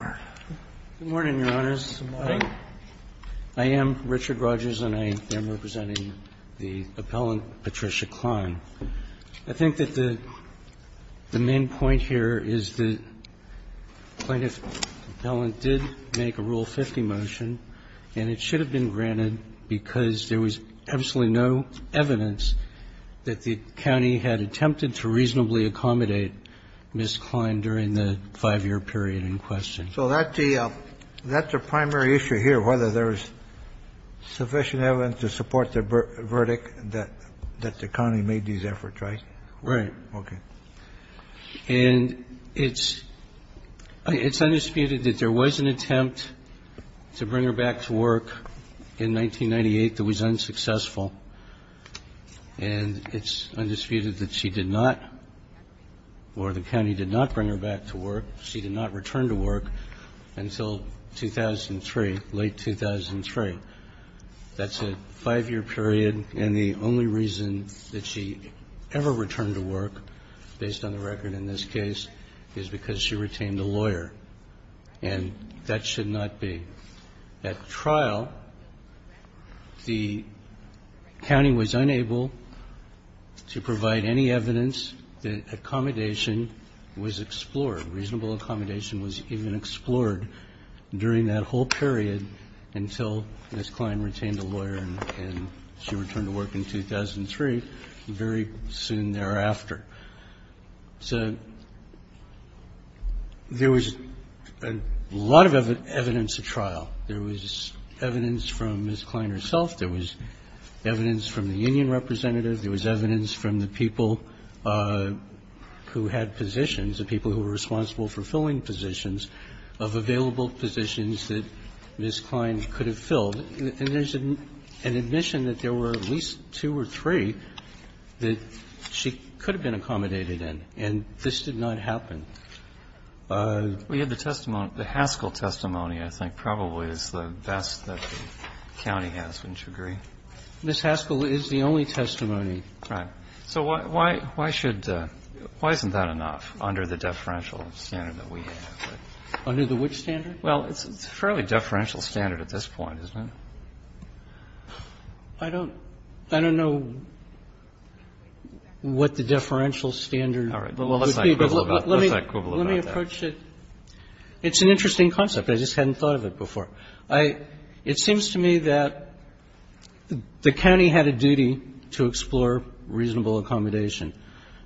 Good morning, Your Honors. I am Richard Rogers and I am representing the appellant Patricia Cline. I think that the the main point here is the plaintiff appellant did make a Rule 50 motion and it should have been granted because there was absolutely no evidence that the county had attempted to reasonably So that's the primary issue here, whether there is sufficient evidence to support the verdict that the county made these efforts, right? Right. Okay. And it's undisputed that there was an attempt to bring her back to work in 1998 that was unsuccessful, and it's undisputed that she did not, or the county did not bring her back to work. She did not return to work until 2003, late 2003. That's a five-year period and the only reason that she ever returned to work, based on the record in this case, is because she retained a lawyer, and that should not be. At trial, the county was unable to provide any evidence that accommodation was expressed or explored. Reasonable accommodation was even explored during that whole period until Ms. Cline retained a lawyer and she returned to work in 2003, very soon thereafter. So there was a lot of evidence at trial. There was evidence from Ms. Cline herself. There was evidence from the union representative. There was evidence from the people who had positions, the people who were responsible for filling positions, of available positions that Ms. Cline could have filled. And there's an admission that there were at least two or three that she could have been accommodated in, and this did not happen. We have the testimony, the Haskell testimony, I think, probably is the best that the county has. Wouldn't you agree? Ms. Haskell is the only testimony. Right. So why should the why isn't that enough under the deferential standard that we have? Under the which standard? Well, it's a fairly deferential standard at this point, isn't it? I don't know what the deferential standard would be, but let me approach it. It's an interesting concept. I just hadn't thought of it before. I — it seems to me that the county had a duty to explore reasonable accommodation.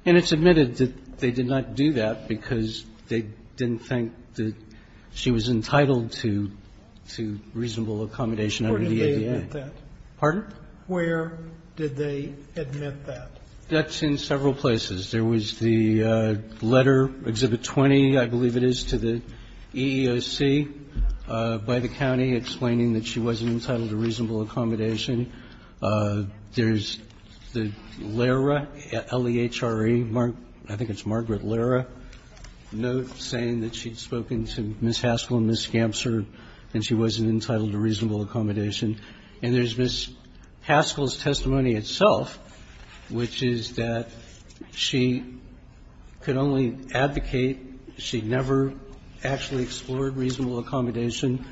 And it's admitted that they did not do that because they didn't think that she was entitled to reasonable accommodation under the ADA. Where did they admit that? Pardon? Where did they admit that? That's in several places. There was the letter, Exhibit 20, I believe it is, to the EEOC by the county explaining that she wasn't entitled to reasonable accommodation. There's the LERA, L-E-H-R-E, I think it's Margaret LERA, note saying that she'd spoken to Ms. Haskell and Ms. Gamser, and she wasn't entitled to reasonable She could only advocate. She never actually explored reasonable accommodation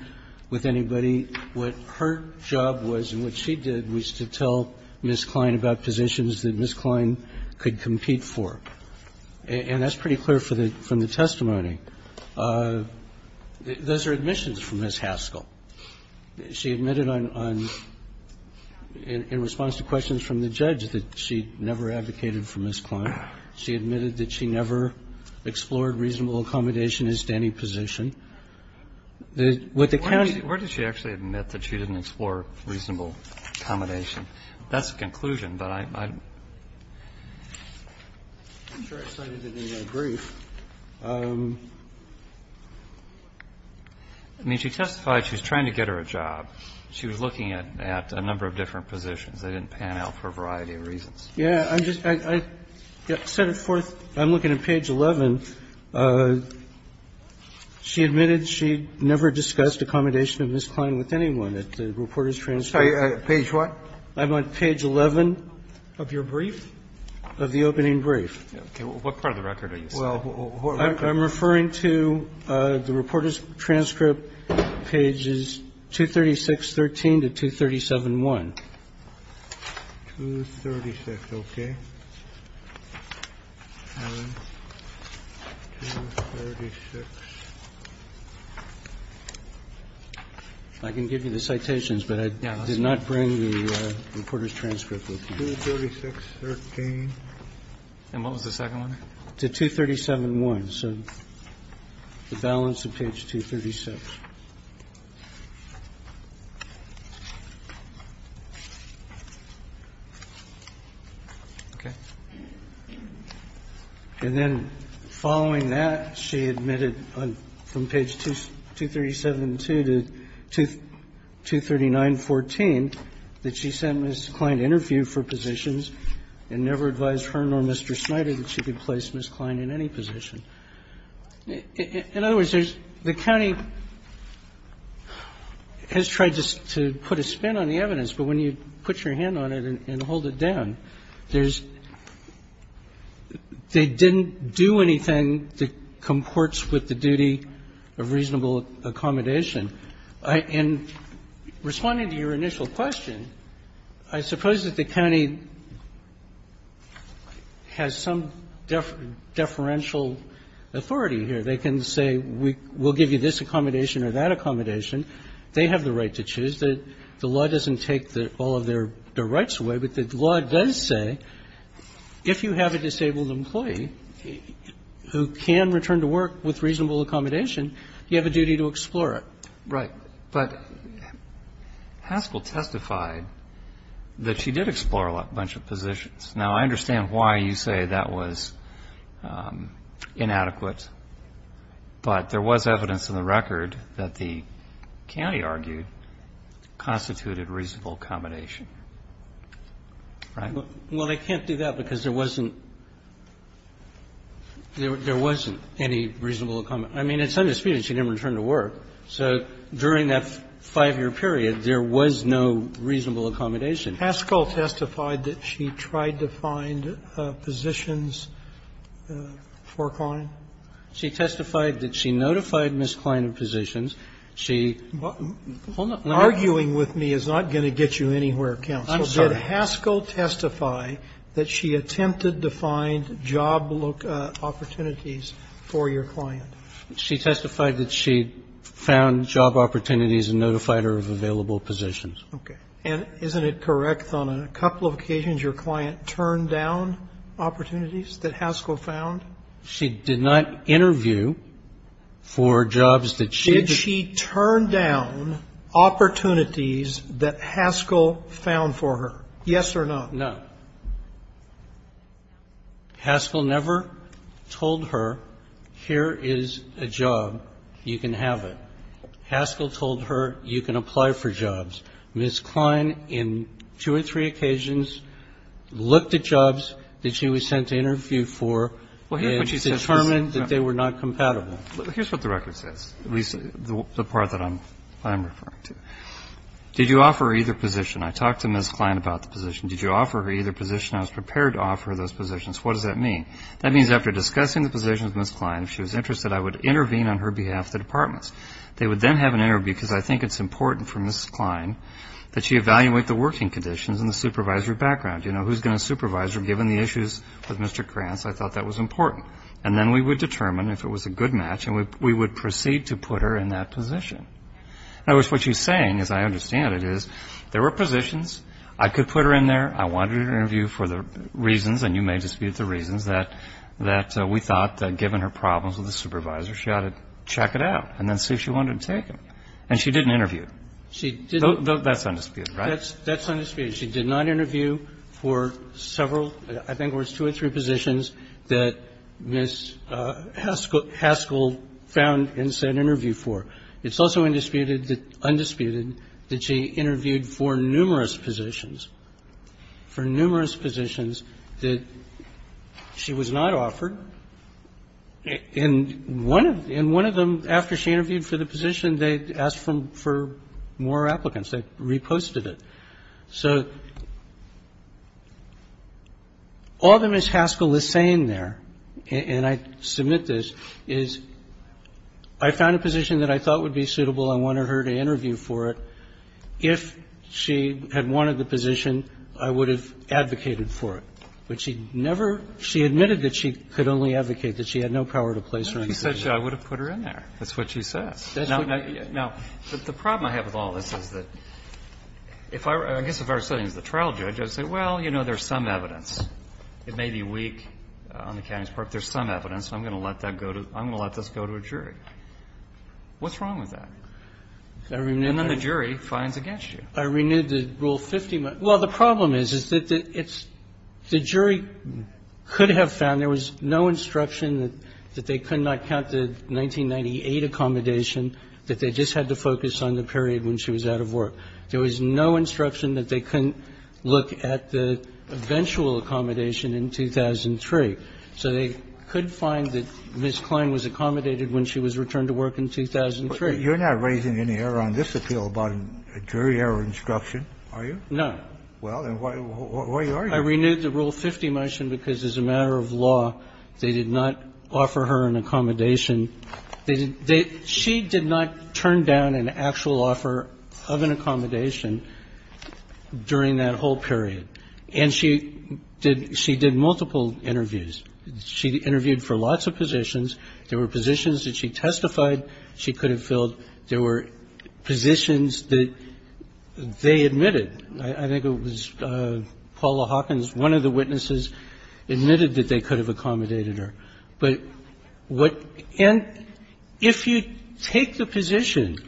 with anybody. What her job was and what she did was to tell Ms. Kline about positions that Ms. Kline could compete for. And that's pretty clear from the testimony. Those are admissions from Ms. Haskell. She admitted on — in response to questions from the judge that she never advocated for Ms. Kline. She admitted that she never explored reasonable accommodation in any position. With the county — Where did she actually admit that she didn't explore reasonable accommodation? That's the conclusion, but I'm not sure I cited it in the brief. I mean, she testified she was trying to get her a job. She was looking at a number of different positions. They didn't pan out for a variety of reasons. Yeah, I'm just — I set it forth. I'm looking at page 11. She admitted she never discussed accommodation of Ms. Kline with anyone at the reporter's transcript. Page what? I'm on page 11. Of your brief? Of the opening brief. Okay. What part of the record are you citing? I'm referring to the reporter's transcript, pages 23613 to 237-1. 236, okay. 236. I can give you the citations, but I did not bring the reporter's transcript with me. 23613. And what was the second one? To 237-1. So the balance of page 236. Okay. And then following that, she admitted on — from page 237-2 to 239-14 that she sent Ms. Kline to interview for positions and never advised her nor Mr. Snyder that she could place Ms. Kline in any position. In other words, there's — the county has tried to put a spin on the evidence, but when you put your hand on it and hold it down, there's — they didn't do anything that comports with the duty of reasonable accommodation. And responding to your initial question, I suppose that the county has some deferential authority here. They can say we'll give you this accommodation or that accommodation. They have the right to choose. The law doesn't take all of their rights away, but the law does say if you have a disabled employee who can return to work with reasonable accommodation, you have a duty to explore it. Right. But Haskell testified that she did explore a bunch of positions. Now, I understand why you say that was inadequate, but there was evidence in the record that the county argued constituted reasonable accommodation. Right? Well, they can't do that because there wasn't — there wasn't any reasonable accommodation. I mean, it's undisputed she didn't return to work, so during that 5-year period, there was no reasonable accommodation. Haskell testified that she tried to find positions for Klein? She testified that she notified Ms. Klein of positions. She — Hold on. Arguing with me is not going to get you anywhere, counsel. I'm sorry. Did Haskell testify that she attempted to find job opportunities for your client? She testified that she found job opportunities and notified her of available positions. Okay. And isn't it correct on a couple of occasions your client turned down opportunities that Haskell found? She did not interview for jobs that she had — Did she turn down opportunities that Haskell found for her, yes or no? No. Haskell never told her, here is a job, you can have it. Haskell told her, you can apply for jobs. Ms. Klein, in two or three occasions, looked at jobs that she was sent to interview for and determined that they were not compatible. Here's what the record says, at least the part that I'm referring to. Did you offer her either position? I talked to Ms. Klein about the position. Did you offer her either position? I was prepared to offer her those positions. What does that mean? That means after discussing the position with Ms. Klein, if she was interested, I would intervene on her behalf at the departments. They would then have an interview because I think it's important for Ms. Klein that she evaluate the working conditions and the supervisory background. You know, who's going to supervise her given the issues with Mr. Krantz? I thought that was important. And then we would determine if it was a good match and we would proceed to put her in that position. In other words, what she's saying, as I understand it, is there were positions. I could put her in there. I wanted an interview for the reasons, and you may dispute the reasons, that we thought that given her problems with the supervisor, she ought to check it out and then see if she wanted to take them. And she did an interview. That's undisputed, right? That's undisputed. She did not interview for several, I think it was two or three positions, that Ms. Haskell found and said interview for. It's also undisputed that she interviewed for numerous positions, for numerous positions that she was not offered. And one of them, after she interviewed for the position, they asked for more applicants. They reposted it. So all that Ms. Haskell is saying there, and I submit this, is I found a position that I thought would be suitable, I wanted her to interview for it. If she had wanted the position, I would have advocated for it. But she never – she admitted that she could only advocate, that she had no power to place her on the jury. I would have put her in there. That's what she says. Now, the problem I have with all of this is that if I were – I guess if I were sitting as the trial judge, I'd say, well, you know, there's some evidence. It may be weak on the county's part, but there's some evidence, and I'm going to let that go to – I'm going to let this go to a jury. What's wrong with that? And then the jury finds against you. I renewed the Rule 50. Well, the problem is, is that it's – the jury could have found there was no instruction that they could not count the 1998 accommodation, that they just had to focus on the period when she was out of work. There was no instruction that they couldn't look at the eventual accommodation in 2003. So they could find that Ms. Klein was accommodated when she was returned to work in 2003. You're not raising any error on this appeal about a jury error instruction, are you? No. Well, then why are you? I renewed the Rule 50 motion because as a matter of law, they did not offer her an accommodation. They – she did not turn down an actual offer of an accommodation during that whole period. And she did – she did multiple interviews. She interviewed for lots of positions. There were positions that she testified she could have filled. There were positions that they admitted. I think it was Paula Hawkins, one of the witnesses, admitted that they could have accommodated her. But what – and if you take the position,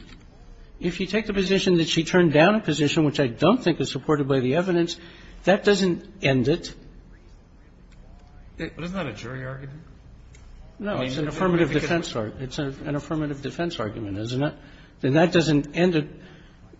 if you take the position that she turned down a position which I don't think is supported by the evidence, that doesn't end it. Isn't that a jury argument? No. It's an affirmative defense argument. It's an affirmative defense argument. Isn't it? Then that doesn't end it.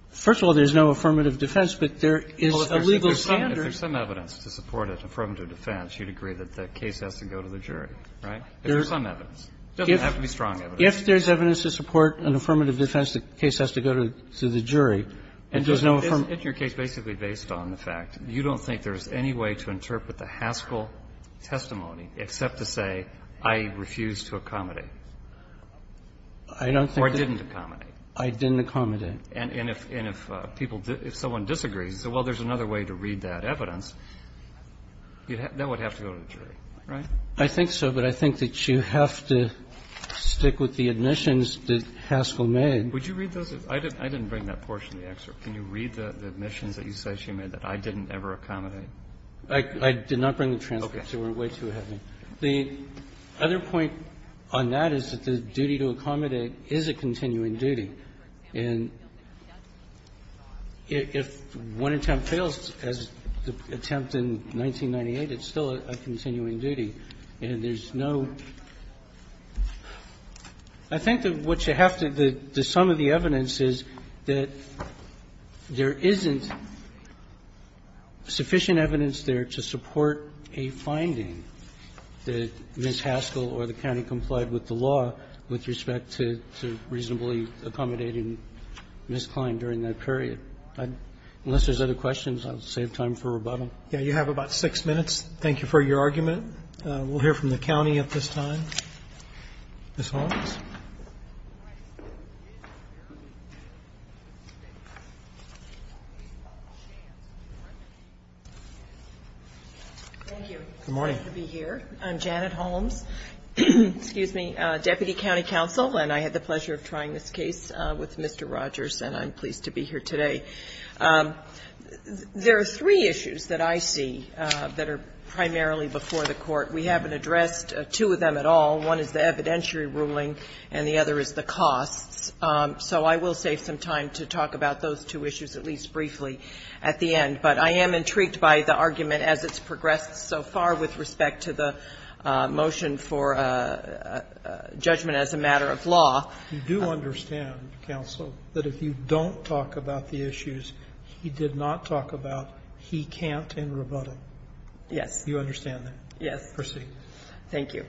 First of all, there's no affirmative defense, but there is a legal standard. Well, if there's some evidence to support an affirmative defense, you'd agree that the case has to go to the jury, right? If there's some evidence. It doesn't have to be strong evidence. If there's evidence to support an affirmative defense, the case has to go to the jury. It does not – It's your case basically based on the fact you don't think there's any way to interpret I don't think that's the case. Or it didn't accommodate. I didn't accommodate. And if people – if someone disagrees, you say, well, there's another way to read that evidence, that would have to go to the jury, right? I think so, but I think that you have to stick with the admissions that Haskell made. Would you read those? I didn't bring that portion of the excerpt. Can you read the admissions that you said she made that I didn't ever accommodate? I did not bring the transcripts. They were way too heavy. The other point on that is that the duty to accommodate is a continuing duty. And if one attempt fails, as the attempt in 1998, it's still a continuing duty. And there's no – I think that what you have to – the sum of the evidence is that there isn't sufficient evidence there to support a finding. Did Ms. Haskell or the county comply with the law with respect to reasonably accommodating Ms. Klein during that period? Unless there's other questions, I'll save time for rebuttal. Yeah, you have about six minutes. Thank you for your argument. We'll hear from the county at this time. Ms. Holmes? Thank you. Good morning. Good to be here. I'm Janet Holmes, deputy county counsel, and I had the pleasure of trying this case with Mr. Rogers, and I'm pleased to be here today. There are three issues that I see that are primarily before the Court. We haven't addressed two of them at all. One is the evidentiary ruling and the other is the costs. So I will save some time to talk about those two issues at least briefly at the end. But I am intrigued by the argument as it's progressed so far with respect to the motion for judgment as a matter of law. You do understand, counsel, that if you don't talk about the issues he did not talk about, he can't in rebuttal? Yes. You understand that? Yes. Proceed. Thank you.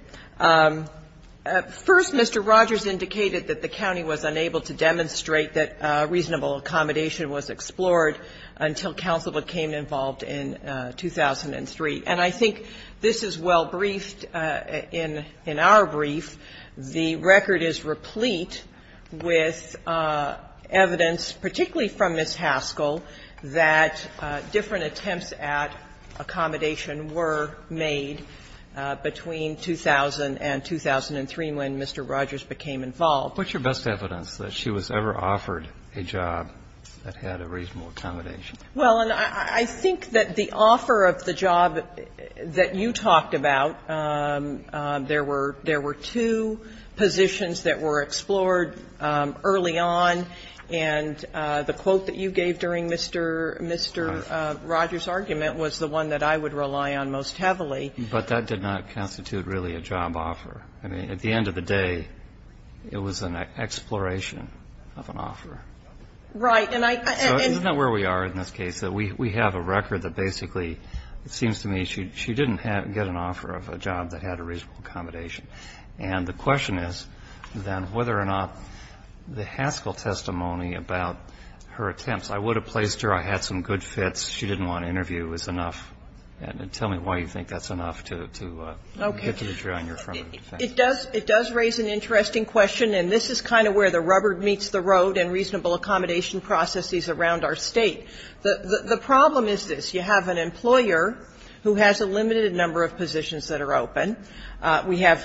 First, Mr. Rogers indicated that the county was unable to demonstrate that reasonable accommodation was explored until counsel became involved in 2003. And I think this is well briefed in our brief. The record is replete with evidence, particularly from Ms. Haskell, that different attempts at accommodation were made between 2000 and 2003, when Mr. Rogers became involved. What's your best evidence that she was ever offered a job that had a reasonable accommodation? Well, and I think that the offer of the job that you talked about, there were two positions that were explored early on, and the quote that you gave during Mr. Rogers' argument was the one that I would rely on most heavily. But that did not constitute really a job offer. I mean, at the end of the day, it was an exploration of an offer. Right. And I can't say where we are in this case. We have a record that basically, it seems to me, she didn't get an offer of a job that had a reasonable accommodation. And the question is, then, whether or not the Haskell testimony about her attempts I would have placed her, I had some good fits, she didn't want to interview, is enough. And tell me why you think that's enough to get to the jury on your front end. It does raise an interesting question, and this is kind of where the rubber meets the road in reasonable accommodation processes around our State. The problem is this. You have an employer who has a limited number of positions that are open. We have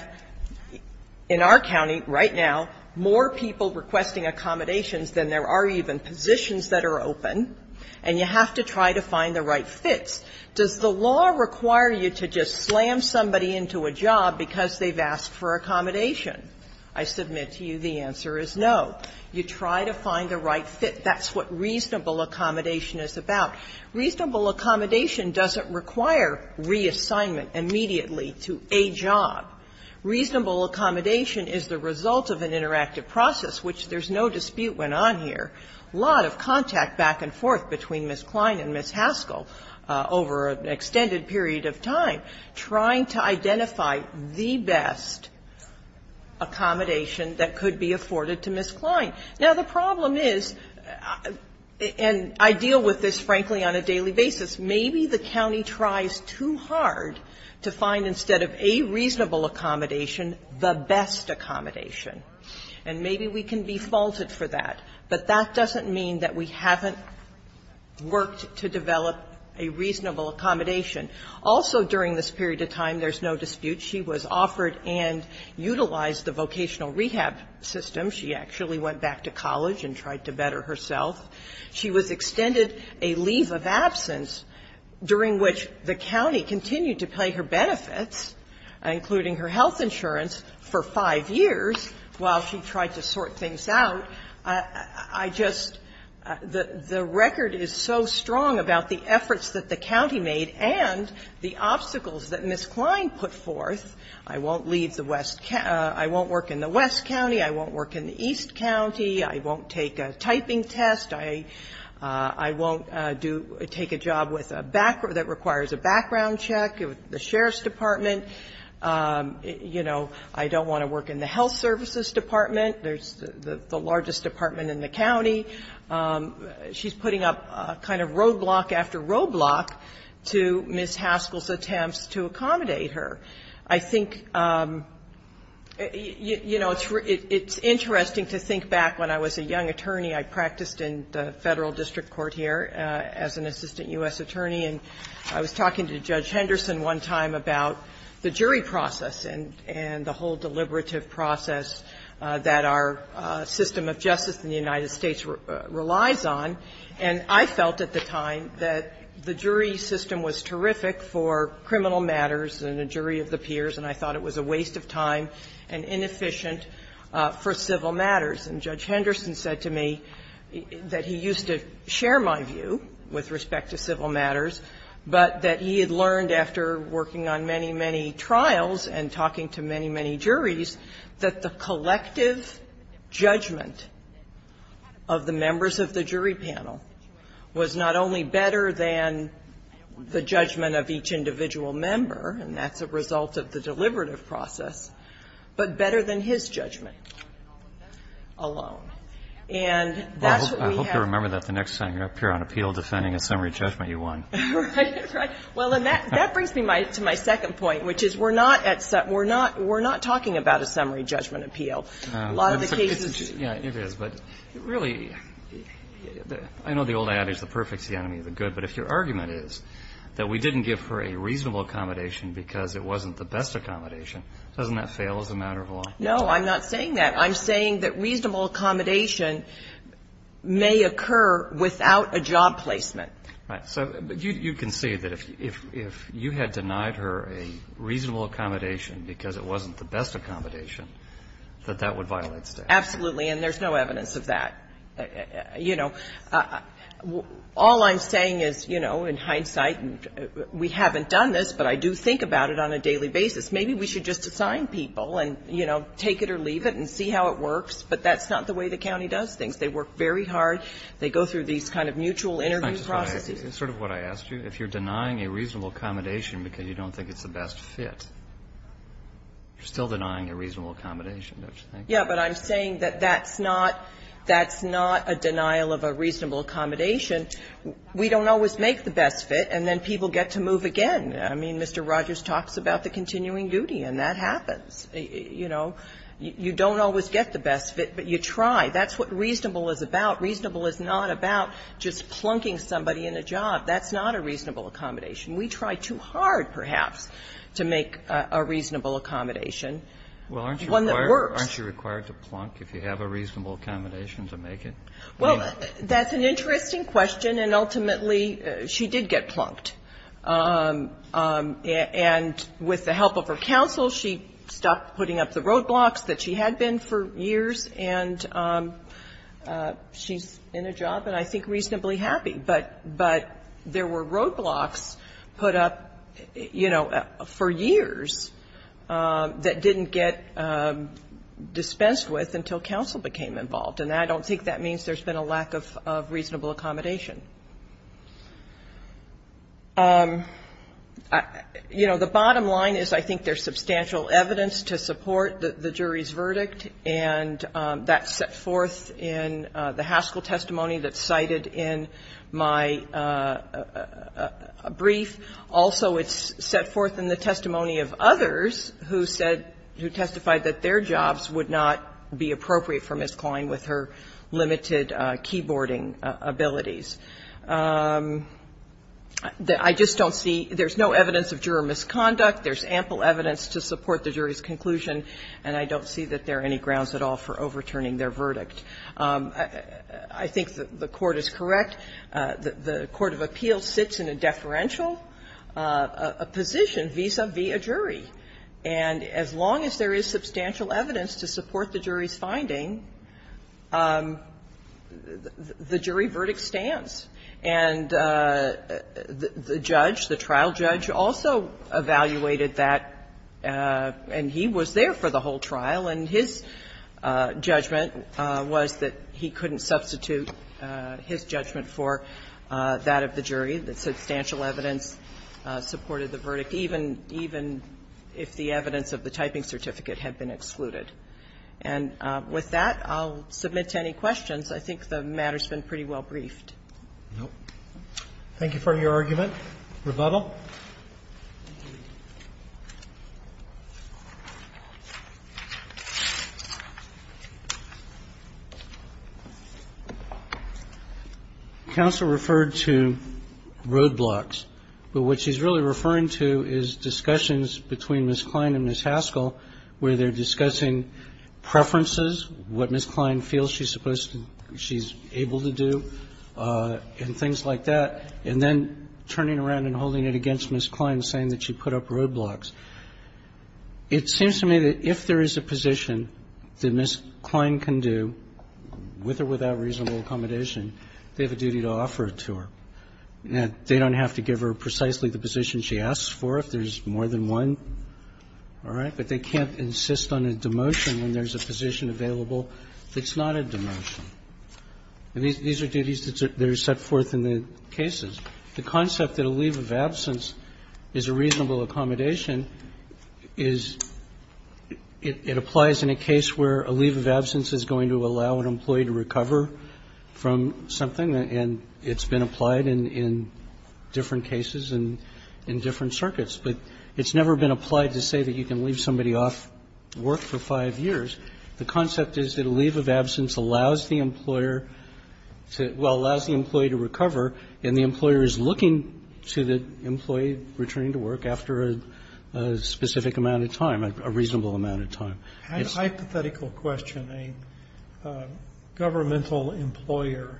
in our county right now more people requesting accommodations than there are even positions that are open, and you have to try to find the right fits. Does the law require you to just slam somebody into a job because they've asked for accommodation? I submit to you the answer is no. You try to find the right fit. That's what reasonable accommodation is about. Reasonable accommodation doesn't require reassignment immediately to a job. Reasonable accommodation is the result of an interactive process, which there's no dispute when on here. A lot of contact back and forth between Ms. Klein and Ms. Haskell. Over an extended period of time, trying to identify the best accommodation that could be afforded to Ms. Klein. Now, the problem is, and I deal with this, frankly, on a daily basis, maybe the county tries too hard to find instead of a reasonable accommodation, the best accommodation. And maybe we can be faulted for that, but that doesn't mean that we haven't worked to develop a reasonable accommodation. Also during this period of time, there's no dispute, she was offered and utilized the vocational rehab system. She actually went back to college and tried to better herself. She was extended a leave of absence during which the county continued to pay her benefits, including her health insurance, for five years while she tried to sort things out. So I just, the record is so strong about the efforts that the county made and the obstacles that Ms. Klein put forth. I won't leave the west, I won't work in the west county, I won't work in the east county, I won't take a typing test, I won't do, take a job with a background, that requires a background check with the sheriff's department. You know, I don't want to work in the health services department. There's the largest department in the county. She's putting up kind of roadblock after roadblock to Ms. Haskell's attempts to accommodate her. I think, you know, it's interesting to think back when I was a young attorney. I practiced in the Federal District Court here as an assistant U.S. attorney, and I was talking to Judge Henderson one time about the jury process and the whole deliberative process that our system of justice in the United States relies on. And I felt at the time that the jury system was terrific for criminal matters and a jury of the peers, and I thought it was a waste of time and inefficient for civil matters. And Judge Henderson said to me that he used to share my view with respect to civil matters, but that he had learned after working on many, many trials and talking to many, many juries that the collective judgment of the members of the jury panel was not only better than the judgment of each individual member, and that's a result of the deliberative process, but better than his judgment alone. And that's what we have. Roberts. Well, I hope you remember that the next time you appear on appeal defending a summary judgment, you won. Right. Well, and that brings me to my second point, which is we're not at set. We're not talking about a summary judgment appeal. A lot of the cases It is, but really, I know the old adage, the perfect is the enemy of the good. But if your argument is that we didn't give her a reasonable accommodation because it wasn't the best accommodation, doesn't that fail as a matter of law? No, I'm not saying that. I'm saying that reasonable accommodation may occur without a job placement. Right. So you can see that if you had denied her a reasonable accommodation because it wasn't the best accommodation, that that would violate statute. Absolutely. And there's no evidence of that. You know, all I'm saying is, you know, in hindsight, we haven't done this, but I do think about it on a daily basis. Maybe we should just assign people and, you know, take it or leave it and see how it works, but that's not the way the county does things. They work very hard. They go through these kind of mutual interview processes. It's sort of what I asked you. If you're denying a reasonable accommodation because you don't think it's the best fit, you're still denying a reasonable accommodation, don't you think? Yeah, but I'm saying that that's not that's not a denial of a reasonable accommodation. We don't always make the best fit, and then people get to move again. I mean, Mr. Rogers talks about the continuing duty, and that happens. You know, you don't always get the best fit, but you try. That's what reasonable is about. Reasonable is not about just plunking somebody in a job. That's not a reasonable accommodation. We try too hard, perhaps, to make a reasonable accommodation, one that works. Well, aren't you required to plunk if you have a reasonable accommodation to make it? Well, that's an interesting question, and ultimately, she did get plunked. And with the help of her counsel, she stopped putting up the roadblocks that she had been for years, and she's in a job and, I think, reasonably happy. But there were roadblocks put up, you know, for years that didn't get dispensed with until counsel became involved. And I don't think that means there's been a lack of reasonable accommodation. You know, the bottom line is I think there's substantial evidence to support the jury's verdict, and that's set forth in the Haskell testimony that's cited in my brief. Also, it's set forth in the testimony of others who said, who testified that their jobs would not be appropriate for Ms. Klein with her limited keyboarding abilities. I just don't see – there's no evidence of juror misconduct. There's ample evidence to support the jury's conclusion, and I don't see that there are any grounds at all for overturning their verdict. I think the Court is correct. The court of appeals sits in a deferential position, v. sub v. a jury. And as long as there is substantial evidence to support the jury's finding, the jury verdict stands. And the judge, the trial judge, also evaluated that, and he was there for the whole trial, and his judgment was that he couldn't substitute his judgment for that of the jury. The substantial evidence supported the verdict, even if the evidence of the typing certificate had been excluded. And with that, I'll submit to any questions. I think the matter's been pretty well briefed. Roberts. Thank you for your argument. Rebuttal. Counsel referred to roadblocks, but what she's really referring to is discussions between Ms. Klein and Ms. Haskell where they're discussing preferences, what Ms. Klein feels she's supposed to – she's able to do, and things like that, and then turning around and holding it against Ms. Klein, saying that she put up roadblocks. It seems to me that if there is a position that Ms. Klein can do, with or without reasonable accommodation, they have a duty to offer it to her. They don't have to give her precisely the position she asks for, if there's more than one, all right? But they can't insist on a demotion when there's a position available that's not a demotion. And these are duties that are set forth in the cases. The concept that a leave of absence is a reasonable accommodation is it applies in a case where a leave of absence is going to allow an employee to recover from something, and it's been applied in different cases and in different circuits. But it's never been applied to say that you can leave somebody off work for five years. The concept is that a leave of absence allows the employer to – well, allows the employee to recover, and the employer is looking to the employee returning to work after a specific amount of time, a reasonable amount of time. It's a hypothetical question. A governmental employer,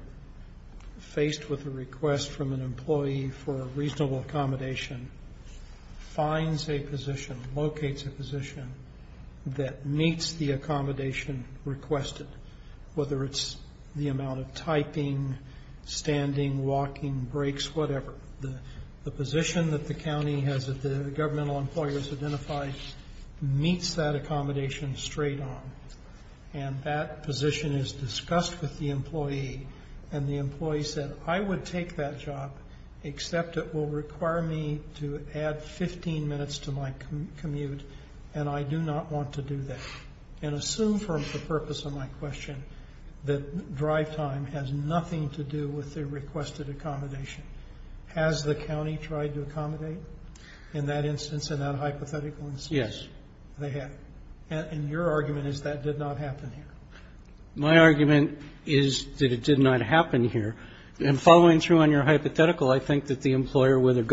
faced with a request from an employee for a reasonable accommodation, finds a position, locates a position that meets the accommodation requested, whether it's the amount of typing, standing, walking, breaks, whatever. The position that the county has that the governmental employers identify meets that accommodation straight on. And that position is discussed with the employee, and the employee said, I would take that job, except it will require me to add 15 minutes to my commute, and I do not want to do that. And assume for the purpose of my question that drive time has nothing to do with the requested accommodation. Has the county tried to accommodate in that instance, in that hypothetical instance? Yes. They have. And your argument is that did not happen here. My argument is that it did not happen here. And following through on your hypothetical, I think that the employer, whether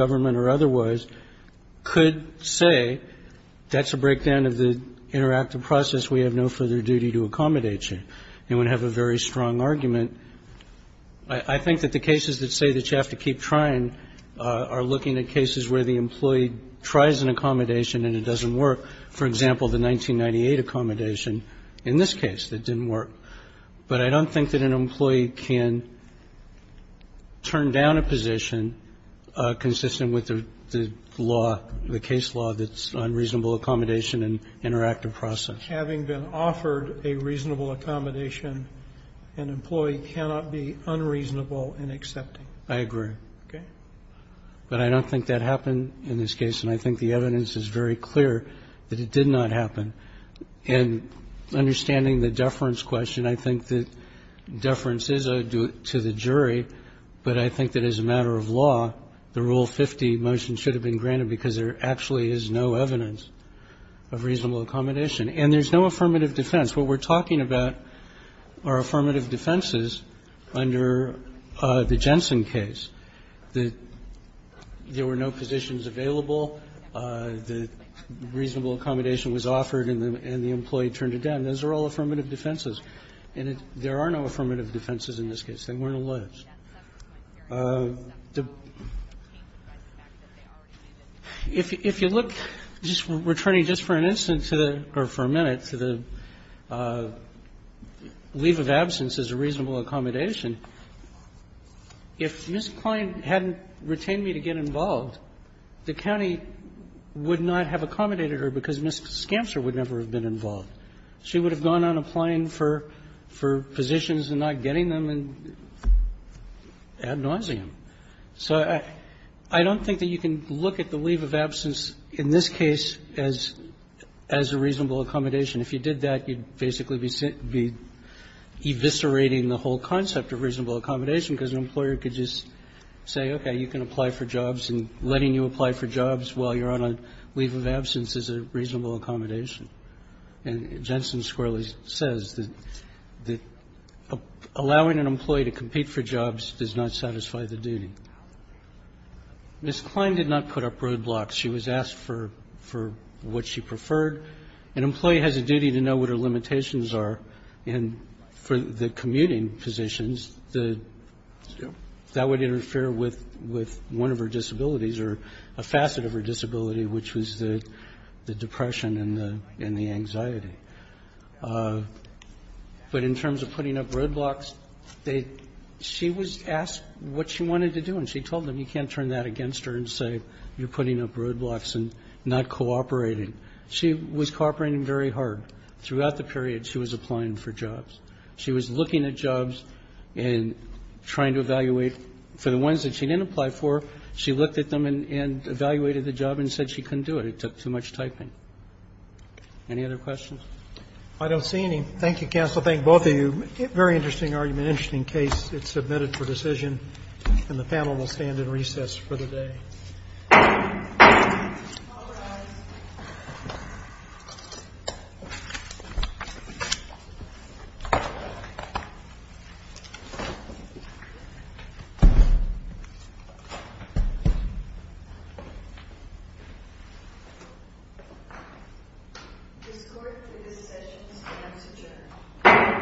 could say that's a breakdown of the interactive process. We have no further duty to accommodate you. And would have a very strong argument. I think that the cases that say that you have to keep trying are looking at cases where the employee tries an accommodation and it doesn't work. For example, the 1998 accommodation in this case that didn't work. But I don't think that an employee can turn down a position consistent with the law, the case law that's unreasonable accommodation and interactive process. Having been offered a reasonable accommodation, an employee cannot be unreasonable in accepting. I agree. Okay. But I don't think that happened in this case. And I think the evidence is very clear that it did not happen. And understanding the deference question, I think that deference is owed to the jury. But I think that as a matter of law, the Rule 50 motion should have been granted because there actually is no evidence of reasonable accommodation. And there's no affirmative defense. What we're talking about are affirmative defenses under the Jensen case. There were no positions available. The reasonable accommodation was offered and the employee turned it down. Those are all affirmative defenses. And there are no affirmative defenses in this case. They weren't alleged. If you look, we're turning just for an instance or for a minute to the leave of absence as a reasonable accommodation, if Ms. Klein hadn't retained me to get involved, the county would not have accommodated her because Ms. Skamser would never have been involved. She would have gone on applying for positions and not getting them and ad nauseum. So I don't think that you can look at the leave of absence in this case as a reasonable accommodation. If you did that, you'd basically be eviscerating the whole concept of reasonable Letting you apply for jobs while you're on a leave of absence is a reasonable accommodation. And Jensen squarely says that allowing an employee to compete for jobs does not satisfy the duty. Ms. Klein did not put up roadblocks. She was asked for what she preferred. An employee has a duty to know what her limitations are. And for the commuting positions, that would interfere with one of her disabilities or a facet of her disability, which was the depression and the anxiety. But in terms of putting up roadblocks, she was asked what she wanted to do. And she told them, you can't turn that against her and say you're putting up roadblocks and not cooperating. She was cooperating very hard. Throughout the period, she was applying for jobs. She was looking at jobs and trying to evaluate. And for the ones that she didn't apply for, she looked at them and evaluated the job and said she couldn't do it. It took too much typing. Any other questions? I don't see any. Thank you, counsel. Thank both of you. Very interesting argument, interesting case. It's submitted for decision. And the panel will stand in recess for the day. All rise. This court for this session stands adjourned. Thank you.